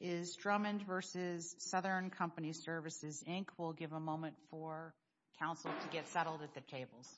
is Drummond v. Southern Company Services, Inc. will give a moment for counsel to get settled at the tables.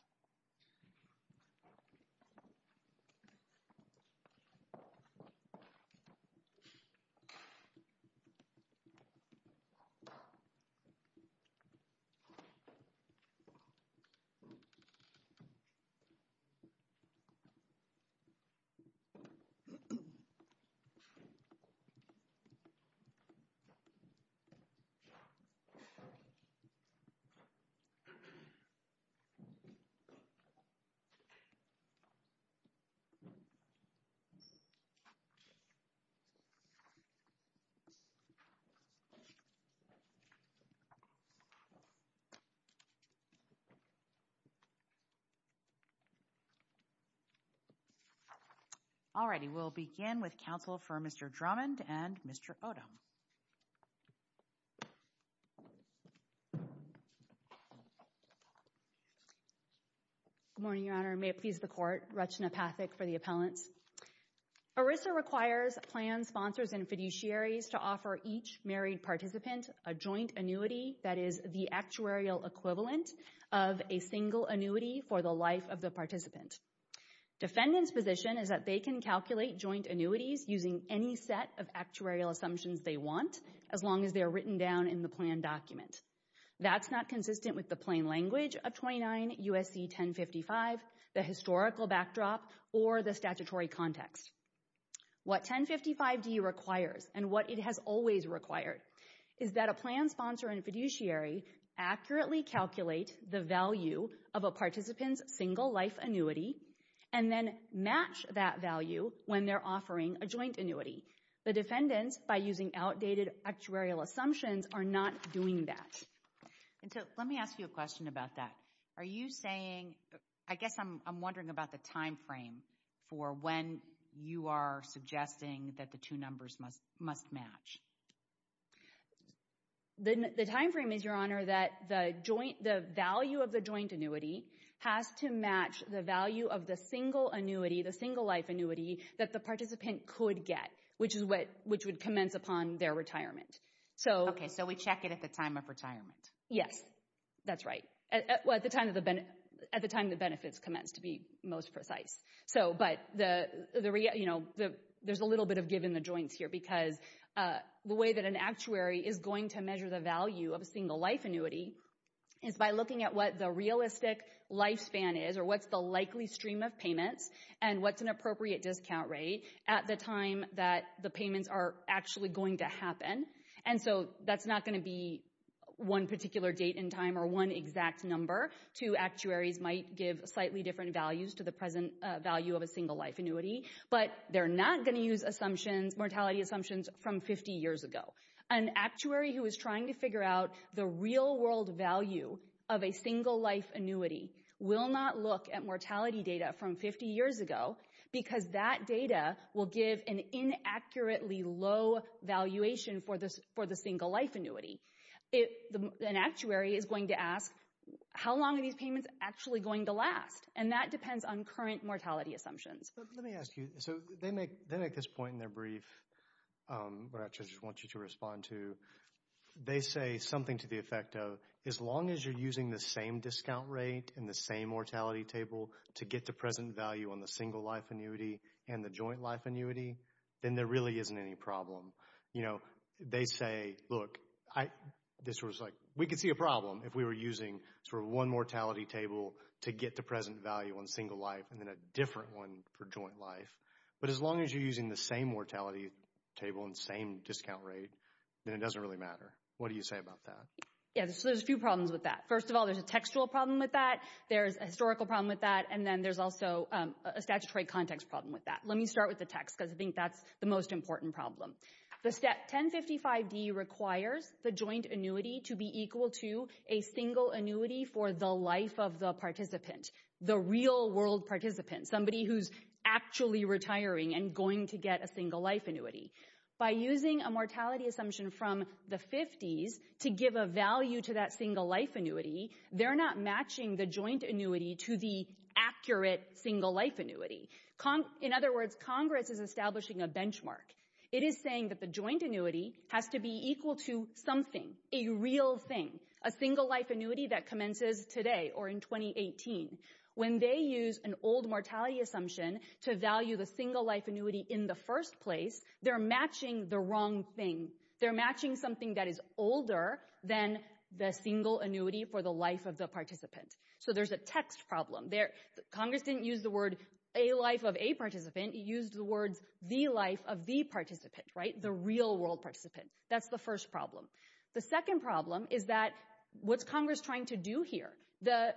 Alrighty, we'll begin with counsel for Mr. Drummond and Mr. Odom. Good morning, Your Honor, and may it please the Court, Rachana Pathak for the appellants. ERISA requires plans, sponsors, and fiduciaries to offer each married participant a joint annuity that is the actuarial equivalent of a single annuity for the life of the participant. Defendant's position is that they can calculate joint annuities using any set of actuarial assumptions they want, as long as they are written down in the plan document. That's not consistent with the plain language of 29 U.S.C. 1055, the historical backdrop, or the statutory context. What 1055d requires, and what it has always required, is that a plan, sponsor, and fiduciary accurately calculate the value of a participant's single life annuity and then match that value when they're offering a joint annuity. The defendants, by using outdated actuarial assumptions, are not doing that. And so, let me ask you a question about that. Are you saying, I guess I'm wondering about the time frame for when you are suggesting that the two numbers must match? The time frame is, Your Honor, that the value of the joint annuity has to match the value of the single annuity, the single life annuity, that the participant could get, which would commence upon their retirement. Okay, so we check it at the time of retirement. Yes, that's right. Well, at the time the benefits commence, to be most precise. But there's a little bit of giving the joints here, because the way that an actuary is going to measure the value of a single life annuity is by looking at what the realistic lifespan is, or what's the likely stream of payments, and what's an appropriate discount rate at the time that the payments are actually going to happen. And so, that's not going to be one particular date in time or one exact number. Two actuaries might give slightly different values to the present value of a single life annuity, but they're not going to use assumptions, mortality assumptions, from 50 years ago. An actuary who is trying to figure out the real world value of a single life annuity will not look at mortality data from 50 years ago, because that data will give an inaccurately low valuation for the single life annuity. An actuary is going to ask, how long are these payments actually going to last? And that depends on current mortality assumptions. Let me ask you. So, they make this point in their brief, which I just want you to respond to. They say something to the effect of, as long as you're using the same discount rate and the same mortality table to get the present value on the single life annuity and the joint life annuity, then there really isn't any problem. You know, they say, look, this was like, we could see a problem if we were using sort of one mortality table to get the present value on single life and then a different one for joint life. But as long as you're using the same mortality table and same discount rate, then it doesn't really matter. What do you say about that? Yeah, so there's a few problems with that. First of all, there's a textual problem with that. There's a historical problem with that. And then there's also a statutory context problem with that. Let me start with the text, because I think that's the most important problem. The step 1055D requires the joint annuity to be equal to a single annuity for the life of the participant, the real world participant, somebody who's actually retiring and going to get a single life annuity. By using a mortality assumption from the 50s to give a value to that single life annuity, they're not matching the joint annuity to the accurate single life annuity. In other words, Congress is establishing a benchmark. It is saying that the joint annuity has to be equal to something, a real thing, a single life annuity that commences today or in 2018. When they use an old mortality assumption to value the single life annuity in the first place, they're matching the wrong thing. They're matching something that is older than the single annuity for the life of the participant. So there's a text problem there. Congress didn't use the word a life of a participant. It used the words the life of the participant, right, the real world participant. That's the first problem. The second problem is that what's Congress trying to do here? The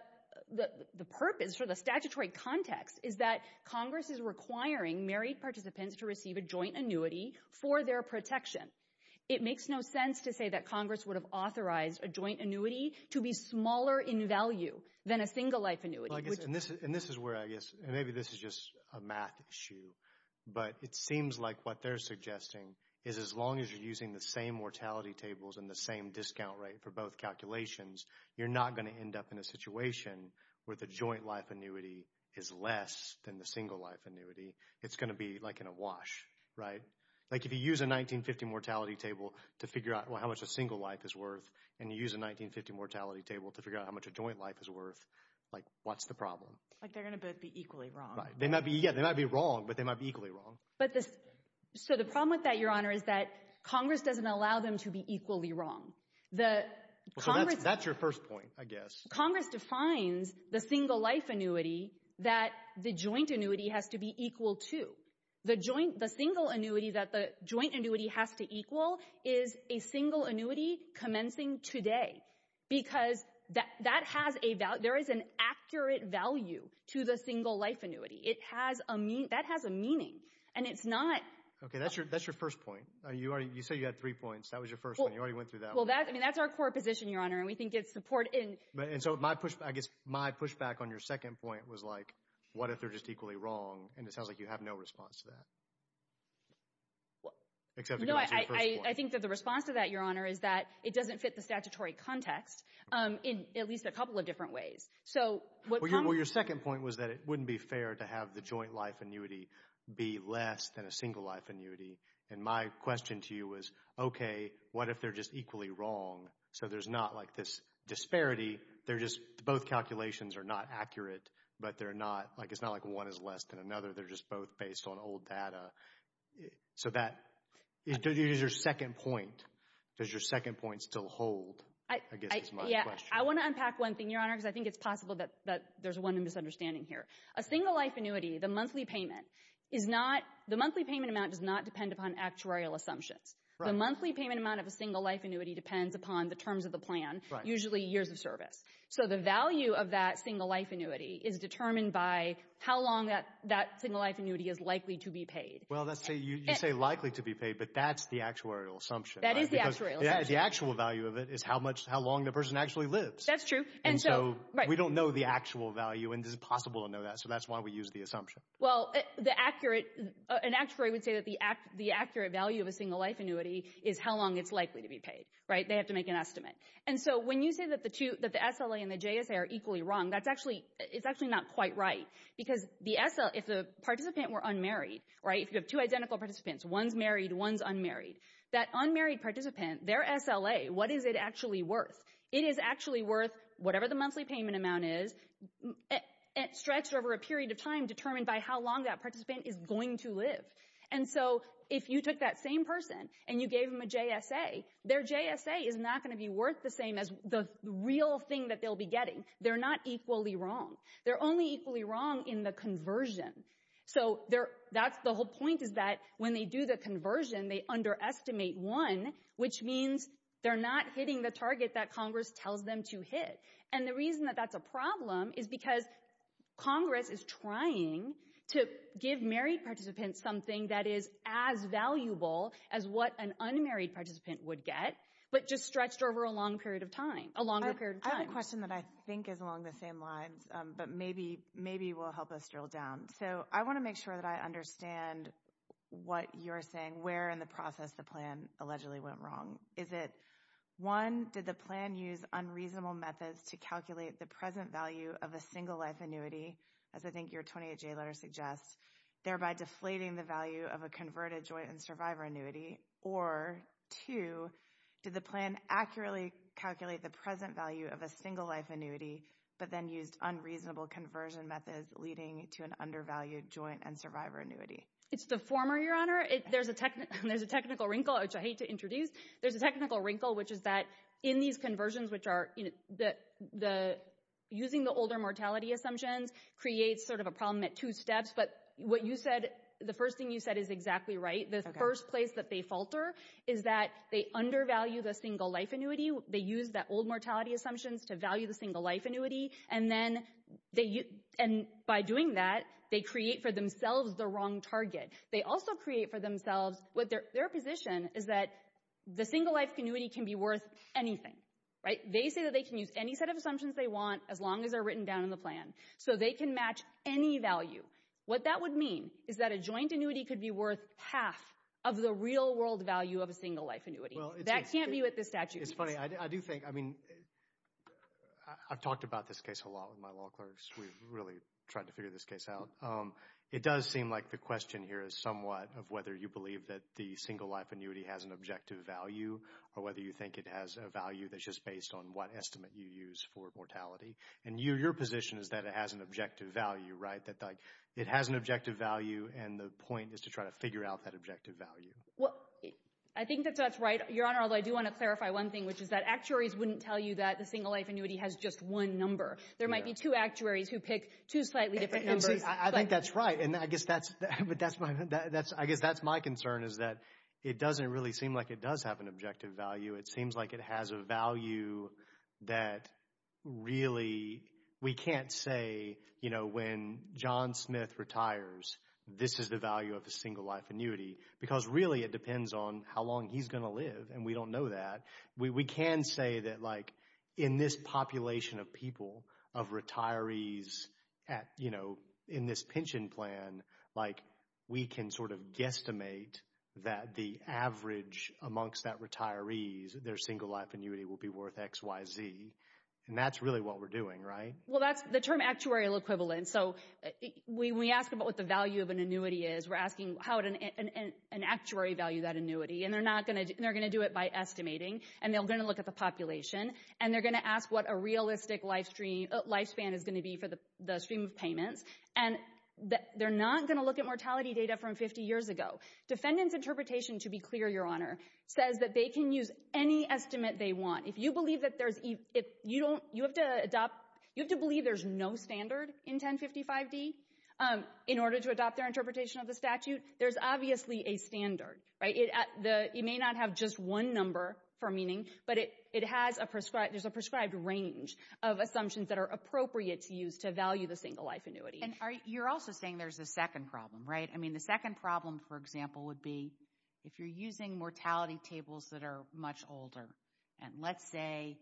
purpose for the statutory context is that Congress is requiring married participants to receive a joint annuity for their protection. It makes no sense to say that Congress would have authorized a joint annuity to be smaller in value than a single life annuity. Well, I guess, and this is where I guess, and maybe this is just a math issue, but it seems like what they're suggesting is as long as you're using the same mortality tables and the same discount rate for both calculations, you're not going to end up in a situation where the joint life annuity is less than the single life annuity. It's going to be like in a wash, right? Like if you use a 1950 mortality table to figure out, well, how much a single life is worth and you use a 1950 mortality table to figure out how much a joint life is worth, like, what's the problem? Like they're going to both be equally wrong. They might be, yeah, they might be wrong, but they might be equally wrong. But the, so the problem with that, Your Honor, is that Congress doesn't allow them to be equally wrong. The Congress. That's your first point, I guess. Congress defines the single life annuity that the joint annuity has to be equal to. The joint, the single annuity that the joint annuity has to equal is a single annuity commencing today because that has a value. There is an accurate value to the single life annuity. It has a, that has a meaning. And it's not. Okay, that's your, that's your first point. You are, you say you had three points. That was your first one. You already went through that. Well, that's, I mean, that's our core position, Your Honor. And we think it's support in. And so my pushback, I guess my pushback on your second point was like, what if they're just equally wrong? And it sounds like you have no response to that. Except, you know, I think that the response to that, Your Honor, is that it doesn't fit the statutory context in at least a couple of different ways. So what. Well, your second point was that it wouldn't be fair to have the joint life annuity be less than a single life annuity. And my question to you was, okay, what if they're just equally wrong? So there's not like this disparity. They're just both calculations are not accurate, but they're not like, it's not like one is less than another. They're just both based on old data. So that is your second point. Does your second point still hold? Yeah, I want to unpack one thing, Your Honor. Because I think it's possible that there's one misunderstanding here. A single life annuity, the monthly payment is not, the monthly payment amount does not depend upon actuarial assumptions. The monthly payment amount of a single life annuity depends upon the terms of the plan, usually years of service. So the value of that single life annuity is determined by how long that single life annuity is likely to be paid. Well, you say likely to be paid, but that's the actuarial assumption. That is the actuarial assumption. The actual value of it is how much, how long the person actually lives. That's true. And so we don't know the actual value, and this is possible to know that. So that's why we use the assumption. Well, the accurate, an actuary would say that the accurate value of a single life annuity is how long it's likely to be paid, right? They have to make an estimate. And so when you say that the two, that the SLA and the JSA are equally wrong, that's actually, it's actually not quite right. Because the SLA, if the participant were unmarried, right? If you have two identical participants, one's married, one's unmarried. That unmarried participant, their SLA, what is it actually worth? It is actually worth, whatever the monthly payment amount is, stretched over a period of time determined by how long that participant is going to live. And so if you took that same person and you gave them a JSA, their JSA is not going to be worth the same as the real thing that they'll be getting. They're not equally wrong. They're only equally wrong in the conversion. So that's the whole point is that when they do the conversion, they underestimate one, which means they're not hitting the target that Congress tells them to hit. And the reason that that's a problem is because Congress is trying to give married participants something that is as valuable as what an unmarried participant would get, but just stretched over a long period of time, a longer period of time. I have a question that I think is along the same lines, but maybe, maybe will help us drill down. So I want to make sure that I understand what you're saying, where in the process the plan allegedly went wrong. Is it, one, did the plan use unreasonable methods to calculate the present value of a single life annuity, as I think your 28-J letter suggests, thereby deflating the value of a converted joint and survivor annuity? Or two, did the plan accurately calculate the present value of a single life annuity, but then used unreasonable conversion methods leading to an undervalued joint and survivor annuity? It's the former, Your Honor. There's a technical wrinkle, which I hate to introduce. There's a technical wrinkle, which is that in these conversions, which are using the older mortality assumptions creates sort of a problem at two steps. But what you said, the first thing you said is exactly right. The first place that they falter is that they undervalue the single life annuity. They use that old mortality assumptions to value the single life annuity. And then they, and by doing that, they create for themselves the wrong target. They also create for themselves, their position is that the single life annuity can be worth anything, right? They say that they can use any set of assumptions they want, as long as they're written down in the plan. So they can match any value. What that would mean is that a joint annuity could be worth half of the real world value of a single life annuity. That can't be what this statute means. It's funny. I do think, I mean, I've talked about this case a lot with my law clerks. We've really tried to figure this case out. It does seem like the question here is somewhat of whether you believe that the single life annuity has an objective value, or whether you think it has a value that's just based on what estimate you use for mortality. And your position is that it has an objective value, right? That it has an objective value, and the point is to try to figure out that objective value. Well, I think that that's right, Your Honor. Although I do want to clarify one thing, which is that actuaries wouldn't tell you that the single life annuity has just one number. There might be two actuaries who pick two slightly different numbers. I think that's right, and I guess that's my concern, is that it doesn't really seem like it does have an objective value. It seems like it has a value that really, we can't say, you know, when John Smith retires, this is the value of a single life annuity, because really it depends on how long he's going to live, and we don't know that. We can say that, like, in this population of people, of retirees at, you know, in this pension plan, like, we can sort of guesstimate that the average amongst that retirees, their single life annuity will be worth X, Y, Z, and that's really what we're doing, right? Well, that's the term actuarial equivalent. So, when we ask about what the value of an annuity is, we're asking how would an actuary value that annuity, and they're not going to, they're going to do it by estimating, and they're going to look at the population, and they're going to ask what a realistic lifespan is going to be for the stream of payments, and they're not going to look at mortality data from 50 years ago. Defendants' interpretation, to be clear, Your Honor, says that they can use any estimate they want. If you believe that there's, if you don't, you have to adopt, you have to believe there's no standard in 1055D in order to adopt their interpretation of the statute. There's obviously a standard, right? It may not have just one number for meaning, but it has a prescribed, there's a prescribed range of assumptions that are appropriate to use to value the single life annuity. And you're also saying there's a second problem, right? I mean, the second problem, for example, would be if you're using mortality tables that are much older, and let's say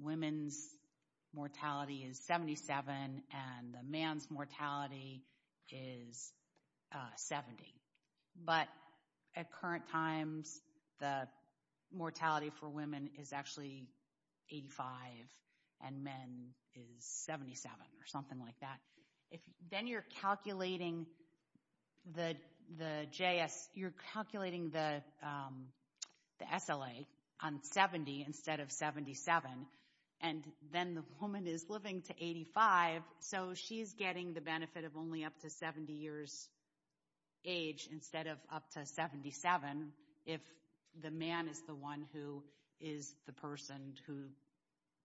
women's mortality is 77, and the man's mortality is 70. But at current times, the mortality for women is actually 85, and men is 77, or something like that. Then you're calculating the JS, you're calculating the SLA on 70 instead of 77, and then the woman is living to 85, so she's getting the benefit of only up to 70 years age instead of up to 77 if the man is the one who is the person who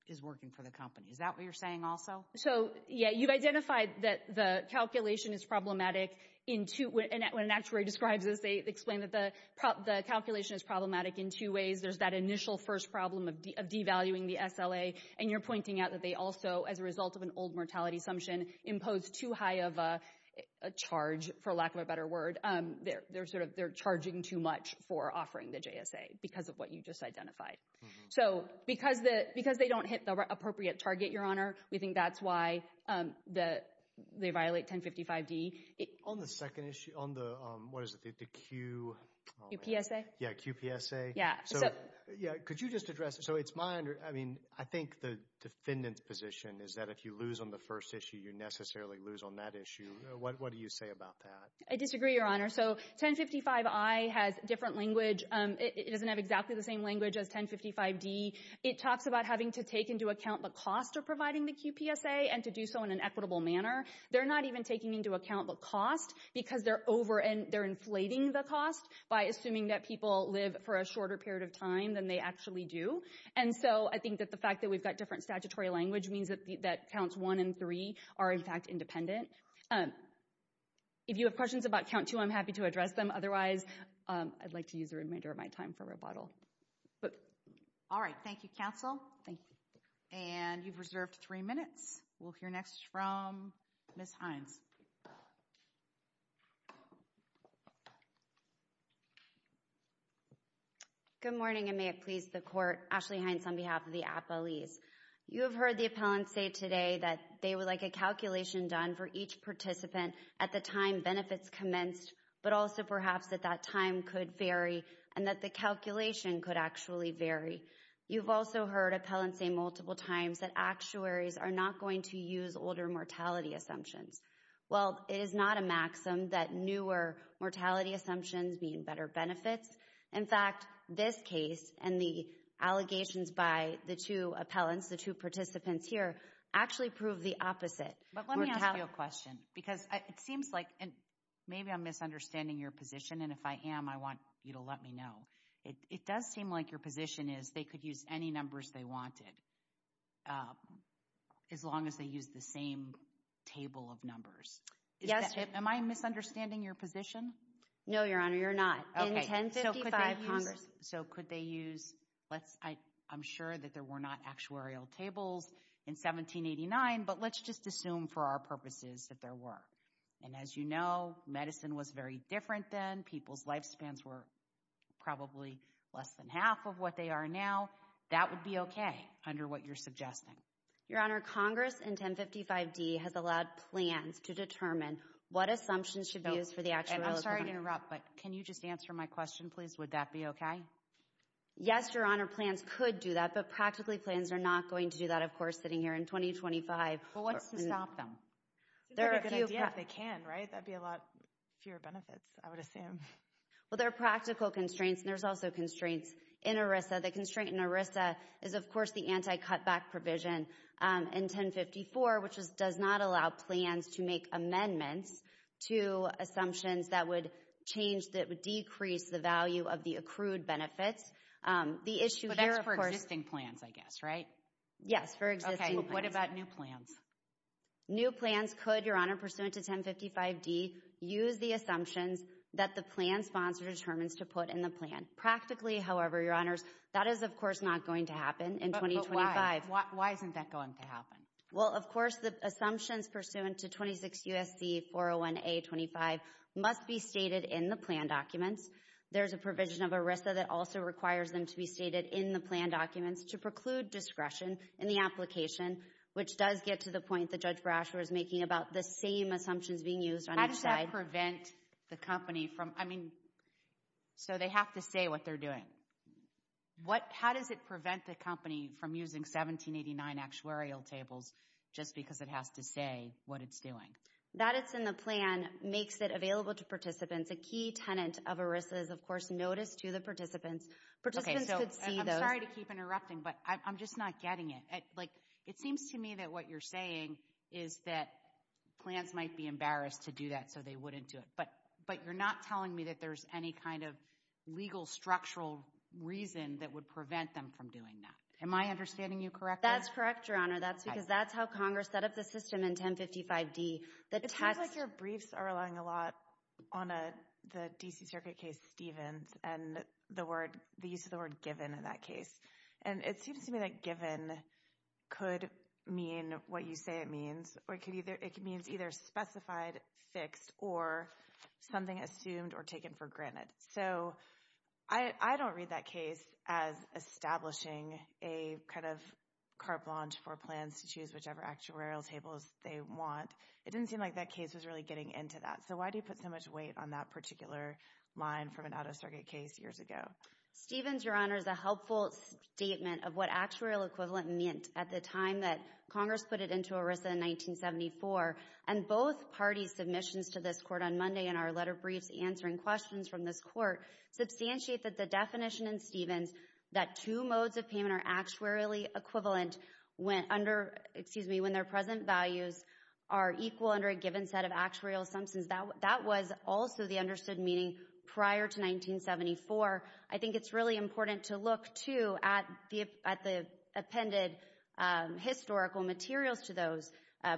is working for the company. Is that what you're saying also? So yeah, you've identified that the calculation is problematic in two, and when an actuary describes this, they explain that the calculation is problematic in two ways. There's that initial first problem of devaluing the SLA, and you're pointing out that they also, as a result of an old mortality assumption, impose too high of a charge, for lack of a better word. They're charging too much for offering the JSA because of what you just identified. So because they don't hit the appropriate target, Your Honor, we think that's why they violate 1055D. On the second issue, on the QPSA, could you just address it? I think the defendant's position is that if you lose on the first issue, you necessarily lose on that issue. What do you say about that? I disagree, Your Honor. So 1055I has different language. It doesn't have exactly the same language as 1055D. It talks about having to take into account the cost of providing the QPSA and to do so in an equitable manner. They're not even taking into account the cost because they're inflating the cost by assuming that people live for a shorter period of time than they actually do. And so I think that the fact that we've got different statutory language means that counts one and three are, in fact, independent. If you have questions about count two, I'm happy to address them. Otherwise, I'd like to use the remainder of my time for rebuttal. All right. Thank you, counsel. Thank you. And you've reserved three minutes. We'll hear next from Ms. Hines. Good morning, and may it please the court. Ashley Hines on behalf of the appellees. You have heard the appellant say today that they would like a calculation done for each participant at the time benefits commenced, but also perhaps that that time could vary and that the calculation could actually vary. You've also heard appellants say multiple times that actuaries are not going to use older mortality assumptions. Well, it is not a maxim that newer mortality assumptions mean better benefits. In fact, this case and the allegations by the two appellants, the two participants here, actually prove the opposite. But let me ask you a question, because it seems like, and maybe I'm misunderstanding your position, and if I am, I want you to let me know. It does seem like your position is they could use any numbers they wanted, as long as they use the same table of numbers. Am I misunderstanding your position? No, Your Honor, you're not. So could they use, I'm sure that there were not actuarial tables in 1789, but let's just assume for our purposes that there were. And as you know, medicine was very different then. People's lifespans were probably less than half of what they are now. That would be okay under what you're suggesting. Your Honor, Congress in 1055d has allowed plans to determine what assumptions should be used for the actuality. I'm sorry to interrupt, but can you just answer my question, please? Would that be okay? Yes, Your Honor, plans could do that, but practically plans are not going to do that. Of course, sitting here in 2025. Well, what's to stop them? It's not a good idea if they can, right? That'd be a lot fewer benefits, I would assume. Well, there are practical constraints, and there's also constraints in ERISA. The constraint in ERISA is, of course, the anti-cutback provision in 1054, which does not allow plans to make amendments to assumptions that would change, that would decrease the value of the accrued benefits. The issue here, of course— But that's for existing plans, I guess, right? Yes, for existing plans. What about new plans? New plans could, Your Honor, pursuant to 1055d, use the assumptions that the plan sponsor determines to put in the plan. Practically, however, Your Honors, that is, of course, not going to happen in 2025. Why isn't that going to happen? Well, of course, the assumptions pursuant to 26 U.S.C. 401A-25 must be stated in the plan documents. There's a provision of ERISA that also requires them to be stated in the plan documents to preclude discretion in the application, which does get to the point that Judge Brasher was making about the same assumptions being used on each side. How does that prevent the company from— I mean, so they have to say what they're doing. How does it prevent the company from using 1789 actuarial tables just because it has to say what it's doing? That it's in the plan makes it available to participants. A key tenant of ERISA is, of course, notice to the participants. Participants could see those— I'm sorry to keep interrupting, but I'm just not getting it. Like, it seems to me that what you're saying is that plans might be embarrassed to do that so they wouldn't do it. But you're not telling me that there's any kind of legal, structural reason that would prevent them from doing that. Am I understanding you correctly? That's correct, Your Honor. That's because that's how Congress set up the system in 1055D. It seems like your briefs are relying a lot on the D.C. Circuit case Stevens and the word—the use of the word given in that case. And it seems to me that given could mean what you say it means, or it could either—it means either specified, fixed, or something assumed or taken for granted. So I don't read that case as establishing a kind of carte blanche for plans to choose whichever actuarial tables they want. It didn't seem like that case was really getting into that. So why do you put so much weight on that particular line from an out-of-circuit case years ago? Stevens, Your Honor, is a helpful statement of what actuarial equivalent meant at the time that Congress put it into ERISA in 1974. And both parties' submissions to this court on Monday in our letter briefs answering questions from this court substantiate that the definition in Stevens that two modes of payment are actuarially equivalent when under—excuse me—when their present values are equal under a given set of actuarial assumptions, that was also the understood meaning prior to 1974. I think it's really important to look, too, at the appended historical materials to those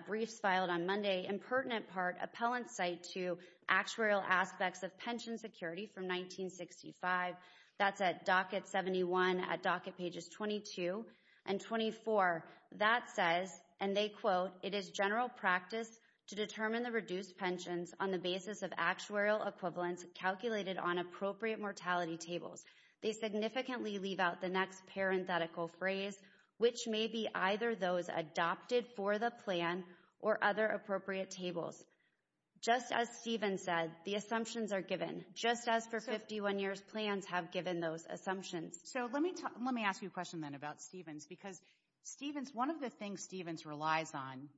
briefs filed on Monday. Impertinent part, appellant's cite to actuarial aspects of pension security from 1965. That's at docket 71 at docket pages 22 and 24. That says, and they quote, it is general practice to determine the reduced pensions on the basis of actuarial equivalents calculated on appropriate mortality tables. They significantly leave out the next parenthetical phrase, which may be either those adopted for the plan or other appropriate tables. Just as Stevens said, the assumptions are given, just as for 51 years plans have given those assumptions. So let me ask you a question then about Stevens, because Stevens, one of the things Stevens relies on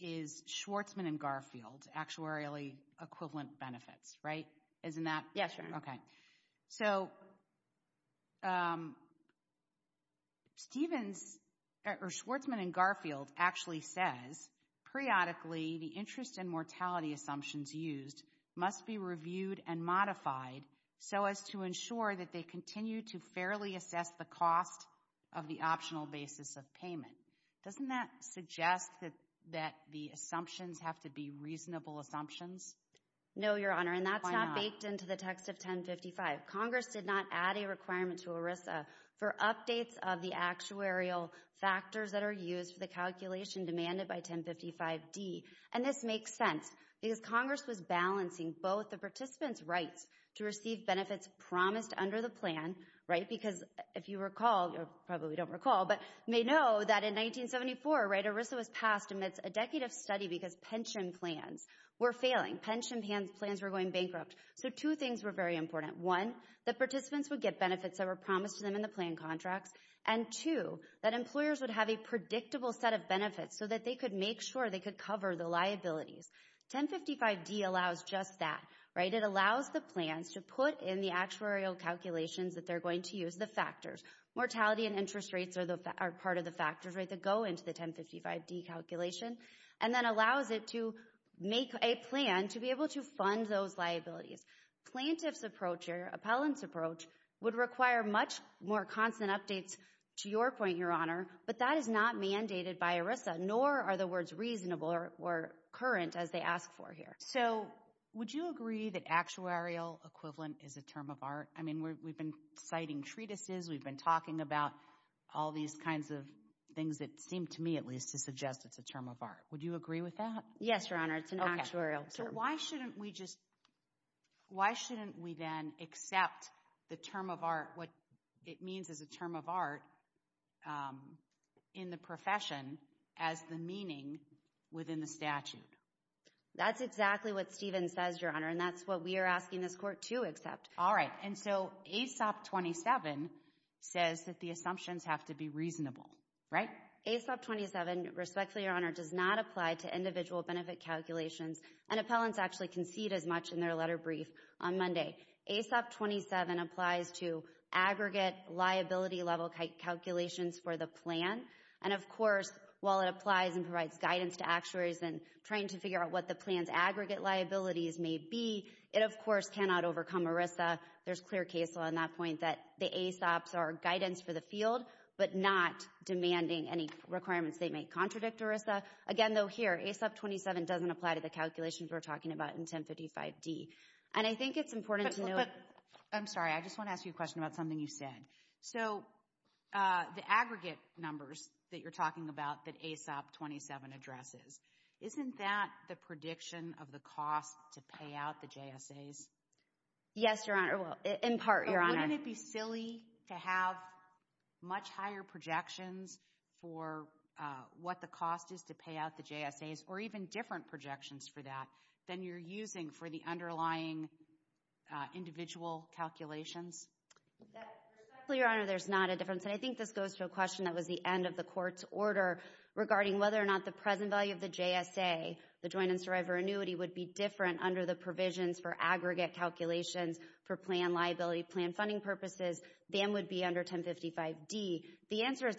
is Schwarzman and Garfield, actuarially equivalent benefits, right? Isn't that? Yes, sure. So, um, Stevens or Schwarzman and Garfield actually says, periodically, the interest and mortality assumptions used must be reviewed and modified so as to ensure that they continue to fairly assess the cost of the optional basis of payment. Doesn't that suggest that the assumptions have to be reasonable assumptions? No, Your Honor, and that's not baked into the text of 1055. Congress did not add a requirement to ERISA for updates of the actuarial factors that are used for the calculation demanded by 1055-D. And this makes sense because Congress was balancing both the participants' rights to receive benefits promised under the plan, right, because if you recall, you probably don't recall, but you may know that in 1974, right, ERISA was passed amidst a decade of study because pension plans were failing. Pension plans were going bankrupt. So two things were very important. One, that participants would get benefits that were promised to them in the plan contracts. And two, that employers would have a predictable set of benefits so that they could make sure they could cover the liabilities. 1055-D allows just that, right? It allows the plans to put in the actuarial calculations that they're going to use the factors. Mortality and interest rates are part of the factors, right, that go into the 1055-D calculation and then allows it to make a plan to be able to fund those liabilities. Plaintiff's approach or appellant's approach would require much more constant updates, to your point, Your Honor, but that is not mandated by ERISA, nor are the words reasonable or current as they ask for here. So would you agree that actuarial equivalent is a term of art? I mean, we've been citing treatises. We've been talking about all these kinds of things that seem to me at least to suggest it's a term of art. Would you agree with that? Yes, Your Honor. It's an actuarial term. Why shouldn't we just, why shouldn't we then accept the term of art, what it means as a term of art, in the profession as the meaning within the statute? That's exactly what Stephen says, Your Honor, and that's what we are asking this court to accept. All right. And so ASOP 27 says that the assumptions have to be reasonable, right? ASOP 27, respectfully, Your Honor, does not apply to individual benefit calculations, and appellants actually concede as much in their letter brief on Monday. ASOP 27 applies to aggregate liability level calculations for the plan. And, of course, while it applies and provides guidance to actuaries in trying to figure out what the plan's aggregate liabilities may be, it, of course, cannot overcome ERISA. There's clear case law on that point that the ASOPs are guidance for the field but not demanding any requirements that may contradict ERISA. Again, though, here, ASOP 27 doesn't apply to the calculations we're talking about in 1055D. And I think it's important to know... But, I'm sorry. I just want to ask you a question about something you said. So the aggregate numbers that you're talking about that ASOP 27 addresses, isn't that the prediction of the cost to pay out the JSAs? Yes, Your Honor. Well, in part, Your Honor. But wouldn't it be silly to have much higher projections for what the cost is to pay out the JSAs, or even different projections for that, than you're using for the underlying individual calculations? That, respectfully, Your Honor, there's not a difference. And I think this goes to a question that was the end of the Court's order regarding whether or not the present value of the JSA, the joint and survivor annuity, would be different under the provisions for aggregate calculations for plan liability, plan funding purposes, than would be under 1055D. The answer is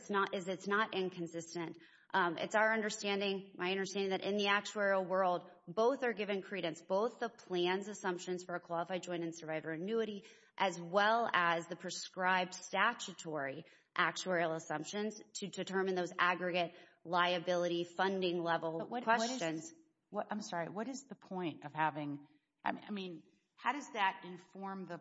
it's not inconsistent. It's our understanding, my understanding, that in the actuarial world, both are given credence, both the plan's assumptions for a qualified joint and survivor annuity, as well as the prescribed statutory actuarial assumptions to determine those aggregate liability funding level questions. I'm sorry, what is the point of having, I mean, how does that inform the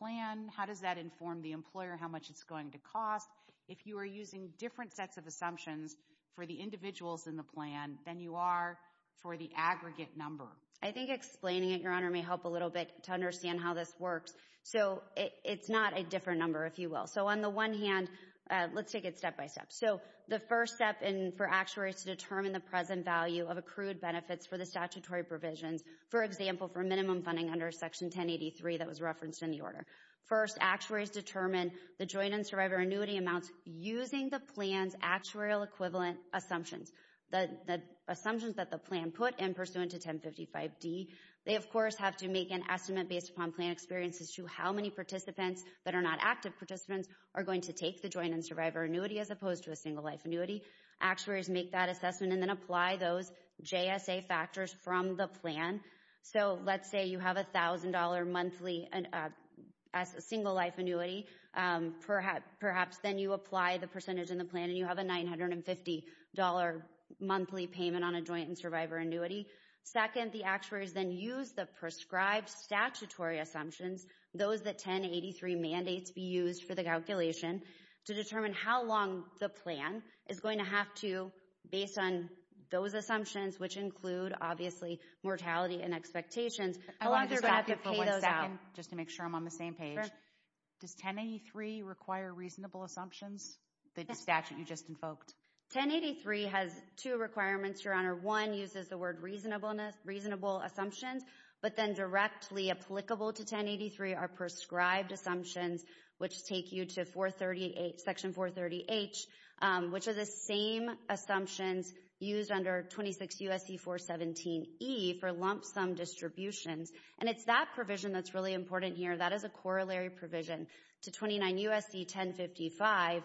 plan? How does that inform the employer how much it's going to cost? If you are using different sets of assumptions for the individuals in the plan, then you are for the aggregate number. I think explaining it, Your Honor, may help a little bit to understand how this works. So it's not a different number, if you will. So on the one hand, let's take it step by step. So the first step for actuaries to determine the present value of accrued benefits for the statutory provisions, for example, for minimum funding under Section 1083 that was referenced in the order. First, actuaries determine the joint and survivor annuity amounts using the plan's actuarial equivalent assumptions. The assumptions that the plan put in pursuant to 1055-D, they, of course, have to make an estimate based upon plan experiences to how many participants that are not active participants are going to take the joint and survivor annuity as opposed to a single life annuity. Actuaries make that assessment and then apply those JSA factors from the plan. So let's say you have $1,000 monthly as a single life annuity. Perhaps then you apply the percentage in the plan and you have a $950 monthly payment on a joint and survivor annuity. Second, the actuaries then use the prescribed statutory assumptions, those that 1083 mandates be used for the calculation to determine how long the plan is going to have to, based on those assumptions, which include, obviously, mortality and expectations. How long does it have to pay those out? Just to make sure I'm on the same page. Does 1083 require reasonable assumptions? The statute you just invoked. 1083 has two requirements, Your Honor. One uses the word reasonable assumptions, but then directly applicable to 1083 are prescribed assumptions, which take you to Section 430H, which are the same assumptions used under 26 U.S.C. 417E for lump sum distributions. And it's that provision that's really important here. That is a corollary provision to 29 U.S.C. 1055,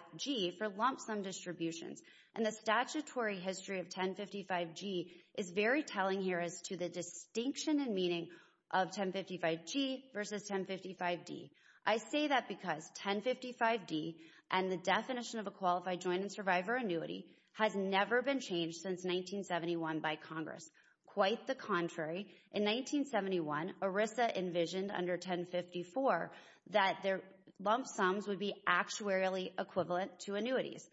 for lump sum distributions. And the statutory history of 1055G is very telling here as to the distinction and meaning of 1055G versus 1055D. I say that because 1055D and the definition of a qualified joint and survivor annuity has never been changed since 1971 by Congress. Quite the contrary. In 1971, ERISA envisioned under 1054 that their lump sums would be actuarially equivalent to annuities.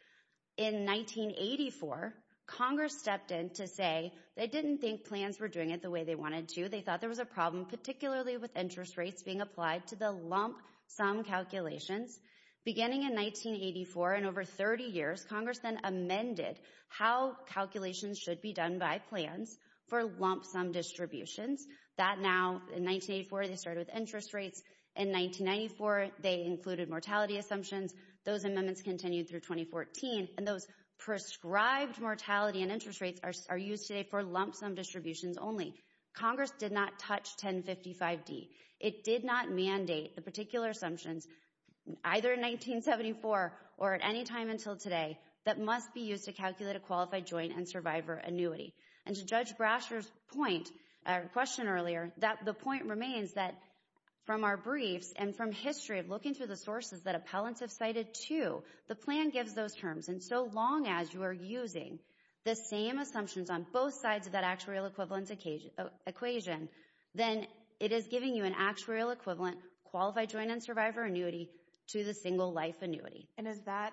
In 1984, Congress stepped in to say they didn't think plans were doing it the way they wanted to. They thought there was a problem, particularly with interest rates being applied to the lump sum calculations. Beginning in 1984 and over 30 years, Congress then amended how calculations should be done by plans for lump sum distributions. That now, in 1984, they started with interest rates in 1994. They included mortality assumptions. Those amendments continued through 2014. And those prescribed mortality and interest rates are used today for lump sum distributions only. Congress did not touch 1055D. It did not mandate the particular assumptions, either in 1974 or at any time until today, that must be used to calculate a qualified joint and survivor annuity. And to Judge Brasher's point, our question earlier, that the point remains that from our briefs and from history of looking through the sources that appellants have cited too, the plan gives those terms. And so long as you are using the same assumptions on both sides of that actuarial equivalence equation, then it is giving you an actuarial equivalent qualified joint and survivor annuity to the single life annuity. And is that,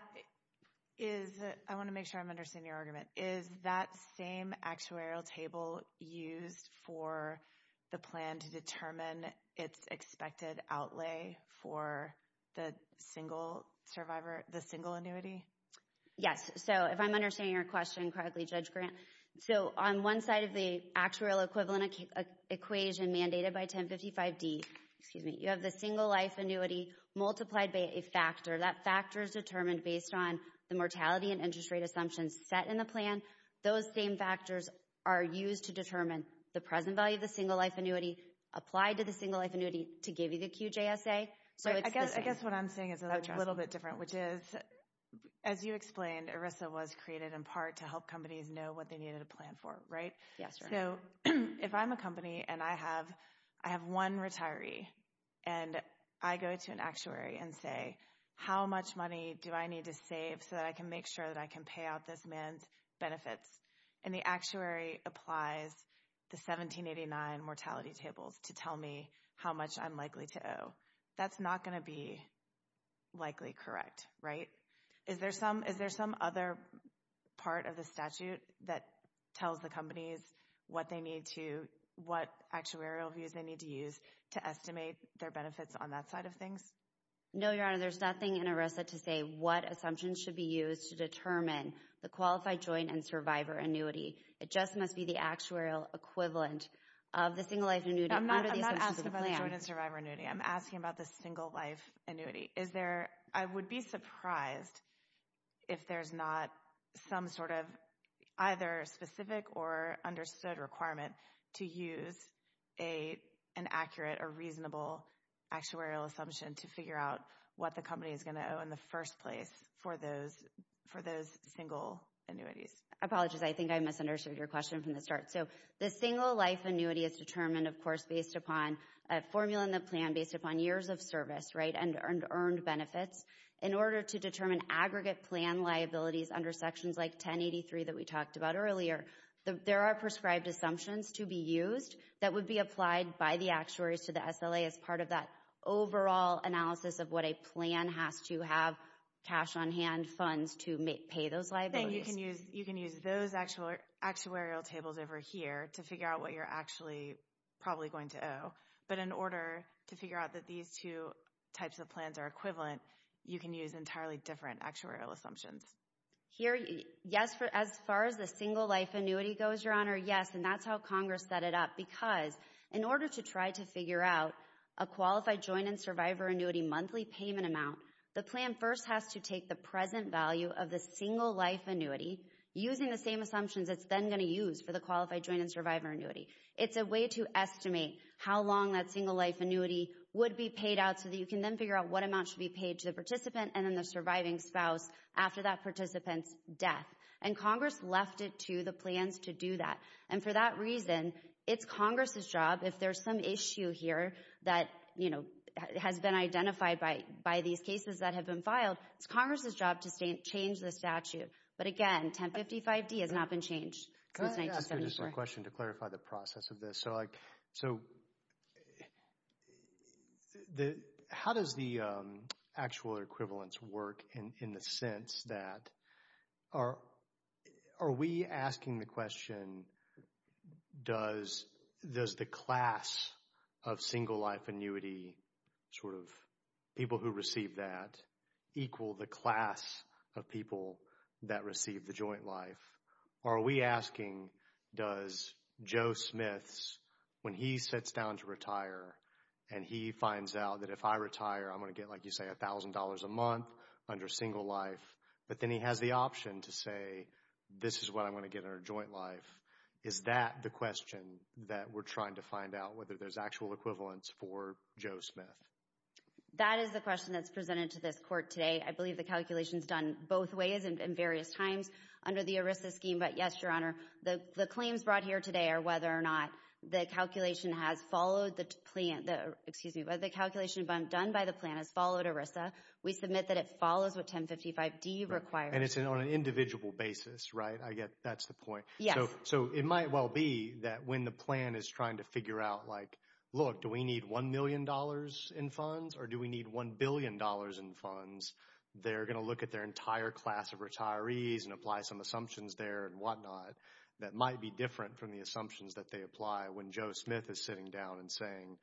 is, I want to make sure I'm understanding your argument. Is that same actuarial table used for the plan to determine its expected outlay for the single survivor, Yes. So if I'm understanding your question correctly, Judge Grant, so on one side of the actuarial equivalent equation mandated by 1055D, excuse me, you have the single life annuity multiplied by a factor. That factor is determined based on the mortality and interest rate assumptions set in the plan. Those same factors are used to determine the present value of the single life annuity applied to the single life annuity to give you the QJSA. So I guess what I'm saying is a little bit different, which is, as you explained, ERISA was created in part to help companies know what they needed to plan for, right? Yes. So if I'm a company and I have one retiree and I go to an actuary and say, how much money do I need to save so that I can make sure that I can pay out this man's benefits? And the actuary applies the 1789 mortality tables to tell me how much I'm likely to owe. That's not going to be likely correct, right? Is there some other part of the statute that tells the companies what they need to, what actuarial views they need to use to estimate their benefits on that side of things? No, Your Honor, there's nothing in ERISA to say what assumptions should be used to determine the qualified joint and survivor annuity. It just must be the actuarial equivalent of the single life annuity. I'm not asking about the joint and survivor annuity. I'm asking about the single life annuity. Is there, I would be surprised if there's not some sort of either specific or understood requirement to use an accurate or reasonable actuarial assumption to figure out what the company is going to owe in the first place for those single annuities. I apologize. I think I misunderstood your question from the start. So the single life annuity is determined, of course, based upon a formula in the plan based upon years of service, right? And earned benefits in order to determine aggregate plan liabilities under sections like 1083 that we talked about earlier. There are prescribed assumptions to be used that would be applied by the actuaries to the SLA as part of that overall analysis of what a plan has to have cash on hand funds to pay those liabilities. You can use those actuarial tables over here to figure out what you're actually probably going to owe. But in order to figure out that these two types of plans are equivalent, you can use entirely different actuarial assumptions. Here, yes. As far as the single life annuity goes, Your Honor, yes. And that's how Congress set it up because in order to try to figure out a qualified joint and survivor annuity monthly payment amount, the plan first has to take the present value of the single life annuity using the same assumptions it's then going to use for the qualified joint and survivor annuity. It's a way to estimate how long that single life annuity would be paid out so that you can then figure out what amount should be paid to the participant and then the surviving spouse after that participant's death. And Congress left it to the plans to do that. And for that reason, it's Congress's job if there's some issue here that has been identified by these cases that have been filed, it's Congress's job to change the statute. But again, 1055D has not been changed since 1974. Just a question to clarify the process of this. So how does the actual equivalence work in the sense that are we asking the question does the class of single life annuity sort of people who receive that equal the class of people that receive the joint life? Are we asking does Joe Smith's when he sits down to retire and he finds out that if I retire, I'm going to get like you say a thousand dollars a month under single life. But then he has the option to say this is what I'm going to get in our joint life. Is that the question that we're trying to find out whether there's actual equivalence for Joe Smith? That is the question that's presented to this court today. I believe the calculation is done both ways and various times under the ERISA scheme. But yes, Your Honor, the claims brought here today are whether or not the calculation has followed the plan, excuse me, but the calculation done by the plan has followed ERISA. We submit that it follows what 1055D requires. And it's on an individual basis, right? I get that's the point. Yeah. So it might well be that when the plan is trying to figure out like, look, do we need $1 million in funds or do we need $1 billion in funds? They're going to look at their entire class of retirees and apply some assumptions there and whatnot. That might be different from the assumptions that they apply when Joe Smith is sitting down and saying,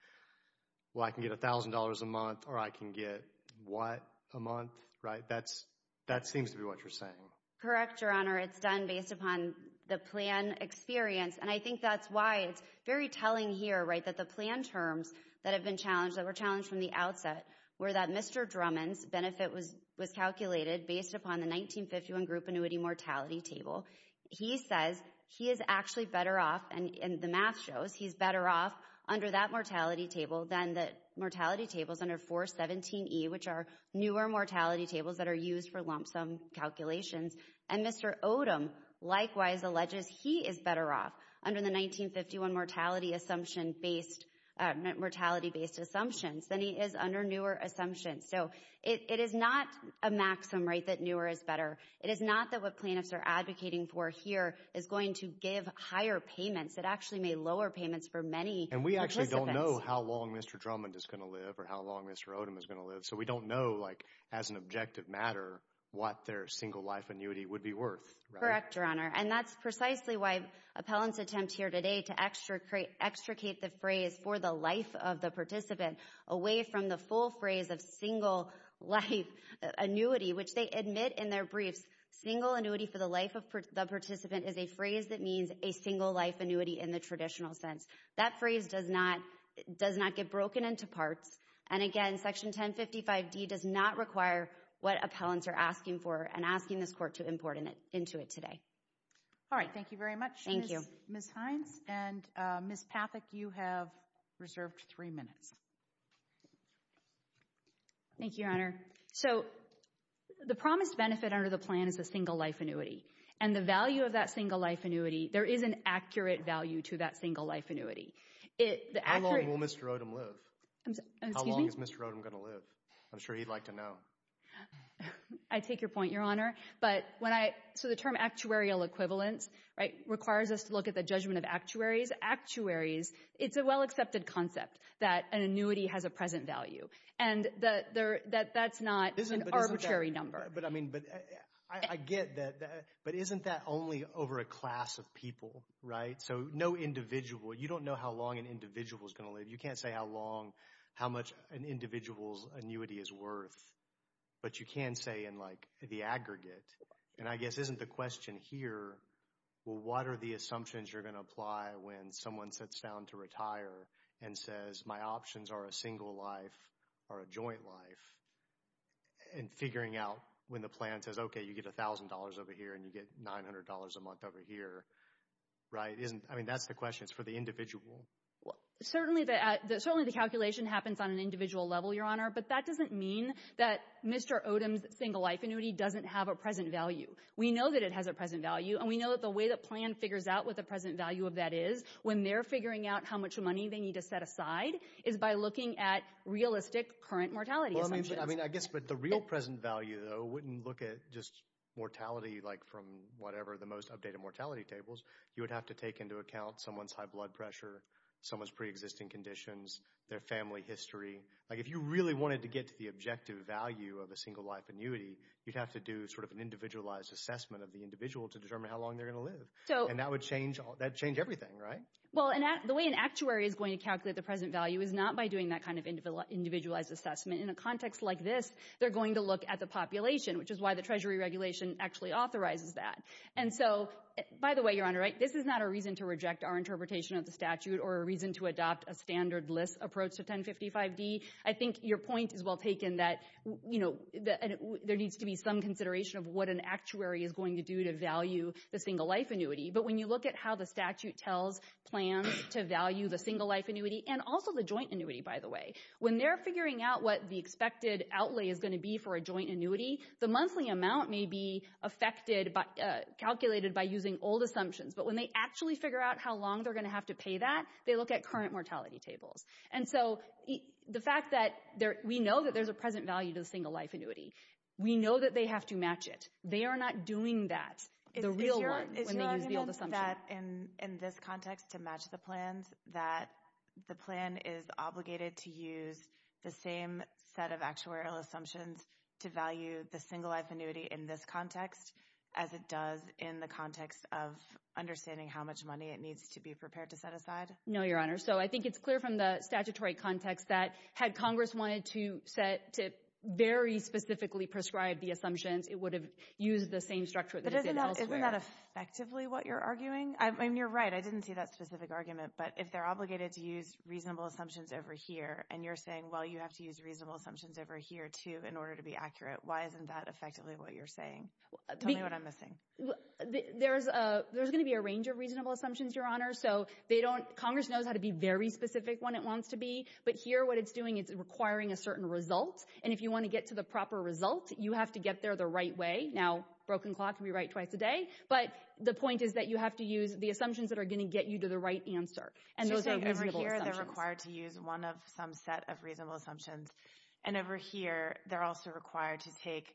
well, I can get $1,000 a month or I can get what a month, right? That seems to be what you're saying. Correct, Your Honor. It's done based upon the plan experience. And I think that's why it's very telling here, right? The plan terms that have been challenged, that were challenged from the outset, were that Mr. Drummond's benefit was calculated based upon the 1951 group annuity mortality table. He says he is actually better off, and the math shows he's better off under that mortality table than the mortality tables under 417E, which are newer mortality tables that are used for lump sum calculations. And Mr. Odom likewise alleges he is better off under the 1951 mortality assumption based, mortality based assumptions than he is under newer assumptions. So it is not a maximum rate that newer is better. It is not that what plaintiffs are advocating for here is going to give higher payments. It actually may lower payments for many participants. And we actually don't know how long Mr. Drummond is going to live or how long Mr. Odom is going to live. So we don't know, like as an objective matter, what their single life annuity would be worth. Correct, Your Honor. And that's precisely why appellants attempt here today to extricate the phrase for the life of the participant away from the full phrase of single life annuity, which they admit in their briefs, single annuity for the life of the participant is a phrase that means a single life annuity in the traditional sense. That phrase does not get broken into parts. And again, Section 1055D does not require what appellants are asking for and asking this court to import into it today. All right, thank you very much, Ms. Hines. And Ms. Pathak, you have reserved three minutes. Thank you, Your Honor. So the promised benefit under the plan is a single life annuity and the value of that single life annuity, there is an accurate value to that single life annuity. How long will Mr. Odom live? How long is Mr. Odom going to live? I'm sure he'd like to know. I take your point, Your Honor. But when I, so the term actuarial equivalence, right, requires us to look at the judgment of actuaries. Actuaries, it's a well accepted concept that an annuity has a present value. And that's not an arbitrary number. But I mean, I get that. But isn't that only over a class of people, right? So no individual, you don't know how long an individual is going to live. You can't say how long, how much an individual's annuity is worth. But you can say in like the aggregate. And I guess isn't the question here, well, what are the assumptions you're going to apply when someone sits down to retire and says my options are a single life or a joint life? And figuring out when the plan says, OK, you get $1,000 over here and you get $900 a month over here, right? Isn't, I mean, that's the question. It's for the individual. Certainly the calculation happens on an individual level, Your Honor. But that doesn't mean that Mr. Odom's single life annuity doesn't have a present value. We know that it has a present value. We know that the way the plan figures out what the present value of that is when they're figuring out how much money they need to set aside is by looking at realistic current mortality assumptions. I mean, I guess, but the real present value, though, wouldn't look at just mortality like from whatever the most updated mortality tables. You would have to take into account someone's high blood pressure, someone's preexisting conditions, their family history. Like if you really wanted to get to the objective value of a single life annuity, you'd have to do sort of an individualized assessment of the individual to determine how long they're going to live. And that would change everything, right? Well, the way an actuary is going to calculate the present value is not by doing that kind of individualized assessment. In a context like this, they're going to look at the population, which is why the Treasury Regulation actually authorizes that. And so, by the way, Your Honor, this is not a reason to reject our interpretation of the statute or a reason to adopt a standard list approach to 1055-D. I think your point is well taken that there needs to be some consideration of what an actuary is going to do to value the single life annuity. But when you look at how the statute tells plans to value the single life annuity, and also the joint annuity, by the way, when they're figuring out what the expected outlay is going to be for a joint annuity, the monthly amount may be affected, calculated by using old assumptions. But when they actually figure out how long they're going to have to pay that, they look at current mortality tables. And so the fact that we know that there's a present value to the single life annuity, we know that they have to match it. They are not doing that, the real one. Is your argument that in this context to match the plans that the plan is obligated to use the same set of actuarial assumptions to value the single life annuity in this context as it does in the context of understanding how much money it needs to be prepared to set aside? No, Your Honor. So I think it's clear from the statutory context that had Congress wanted to set to very specifically prescribe the assumptions, it would have used the same structure. But isn't that effectively what you're arguing? I mean, you're right. I didn't see that specific argument. But if they're obligated to use reasonable assumptions over here and you're saying, well, you have to use reasonable assumptions over here, too, in order to be accurate. Why isn't that effectively what you're saying? Tell me what I'm missing. There's going to be a range of reasonable assumptions, Your Honor. So they don't—Congress knows how to be very specific when it wants to be. But here, what it's doing, it's requiring a certain result. And if you want to get to the proper result, you have to get there the right way. Now, a broken clock can be right twice a day. But the point is that you have to use the assumptions that are going to get you to the right answer. And those are reasonable assumptions. They're required to use one of some set of reasonable assumptions. And over here, they're also required to take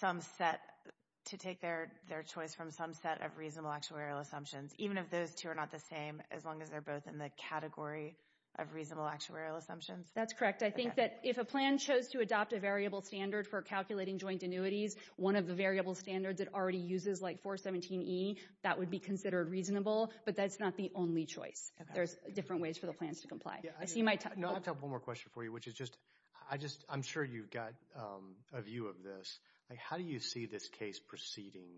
some set—to take their choice from some set of reasonable actuarial assumptions, even if those two are not the same, as long as they're both in the category of reasonable actuarial assumptions. That's correct. I think that if a plan chose to adopt a variable standard for calculating joint annuities, one of the variable standards it already uses, like 417E, that would be considered reasonable. But that's not the only choice. There's different ways for the plans to comply. I see my time— No, I have one more question for you, which is just—I just— I'm sure you've got a view of this. How do you see this case proceeding?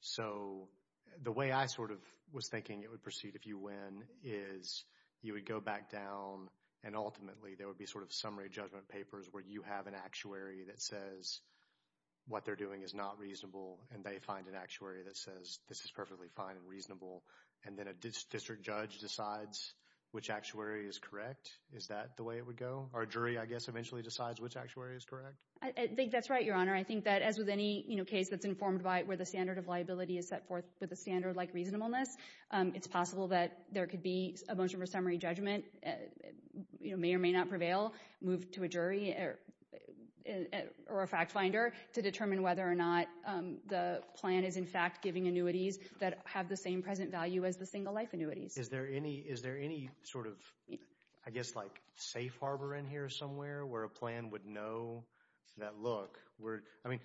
So the way I sort of was thinking it would proceed if you win is you would go back down and ultimately there would be sort of summary judgment papers where you have an actuary that says what they're doing is not reasonable and they find an actuary that says this is perfectly fine and reasonable and then a district judge decides which actuary is correct. Is that the way it would go? Our jury, I guess, eventually decides which actuary is correct? I think that's right, Your Honor. I think that as with any, you know, case that's informed by where the standard of liability is set forth with a standard like reasonableness, it's possible that there could be a motion for summary judgment, you know, may or may not prevail, move to a jury or a fact finder to determine whether or not the plan is in fact giving annuities that have the same present value as the single life annuities. Is there any sort of, I guess, like safe harbor in here somewhere where a plan would know that, look, I mean,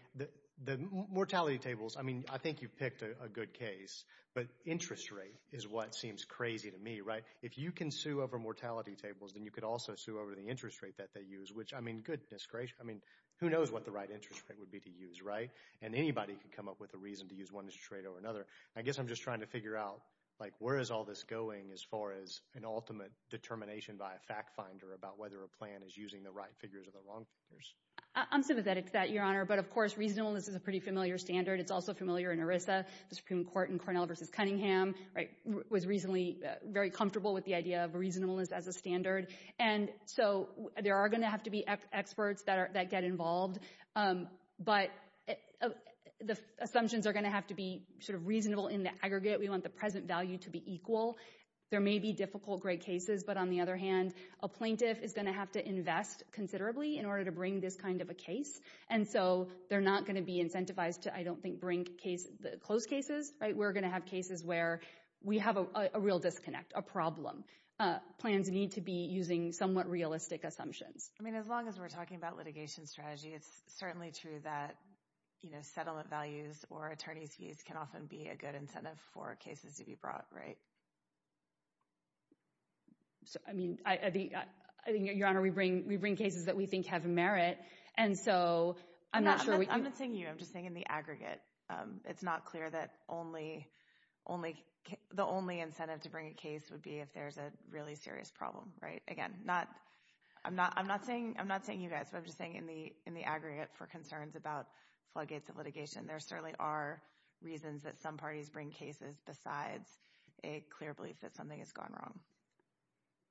the mortality tables, I mean, I think you've picked a good case, but interest rate is what seems crazy to me, right? If you can sue over mortality tables, then you could also sue over the interest rate that they use, which, I mean, goodness gracious, I mean, who knows what the right interest rate would be to use, right? And anybody could come up with a reason to use one interest rate over another. I guess I'm just trying to figure out, like, where is all this going as far as an ultimate determination by a fact finder about whether a plan is using the right figures or the wrong figures. I'm sympathetic to that, Your Honor, but of course reasonableness is a pretty familiar standard. It's also familiar in ERISA, the Supreme Court in Cornell versus Cunningham, right, was reasonably very comfortable with the idea of reasonableness as a standard. And so there are going to have to be experts that get involved, but the assumptions are going to have to be sort of reasonable in the aggregate. We want the present value to be equal. There may be difficult great cases, but on the other hand, a plaintiff is going to have to invest considerably in order to bring this kind of a case. And so they're not going to be incentivized to, I don't think, bring closed cases, right? We're going to have cases where we have a real disconnect, a problem. Plans need to be using somewhat realistic assumptions. I mean, as long as we're talking about litigation strategy, it's certainly true that, you know, settlement values or attorney's fees can often be a good incentive for cases to be brought, right? So, I mean, I think, Your Honor, we bring cases that we think have merit. And so I'm not sure we- I'm not saying you, I'm just saying in the aggregate. It's not clear that only, only, the only incentive to bring a case would be if there's a really serious problem, right? Again, not, I'm not, I'm not saying, I'm not saying you guys, but I'm just saying in the, in the aggregate for concerns about floodgates of litigation, there certainly are reasons that some parties bring cases besides a clear belief that something has gone wrong.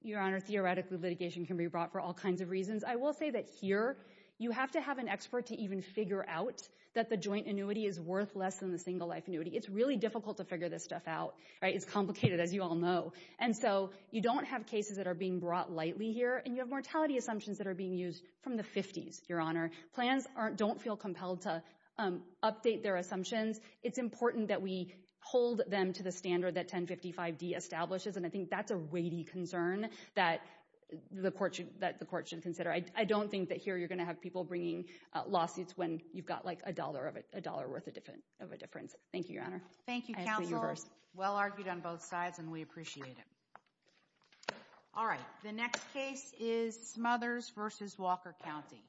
Your Honor, theoretically, litigation can be brought for all kinds of reasons. I will say that here, you have to have an expert to even figure out that the joint annuity is worth less than the single life annuity. It's really difficult to figure this stuff out, right? It's complicated, as you all know. And so, you don't have cases that are being brought lightly here. And you have mortality assumptions that are being used from the 50s, Your Honor. Plans aren't, don't feel compelled to update their assumptions. It's important that we hold them to the standard that 1055D establishes. And I think that's a weighty concern that the court should, that the court should consider. I don't think that here you're going to have people bringing lawsuits when you've got like a dollar of it, a dollar worth of a difference. Thank you, Your Honor. Thank you, counsel. Well argued on both sides and we appreciate it. All right, the next case is Smothers v. Walker County.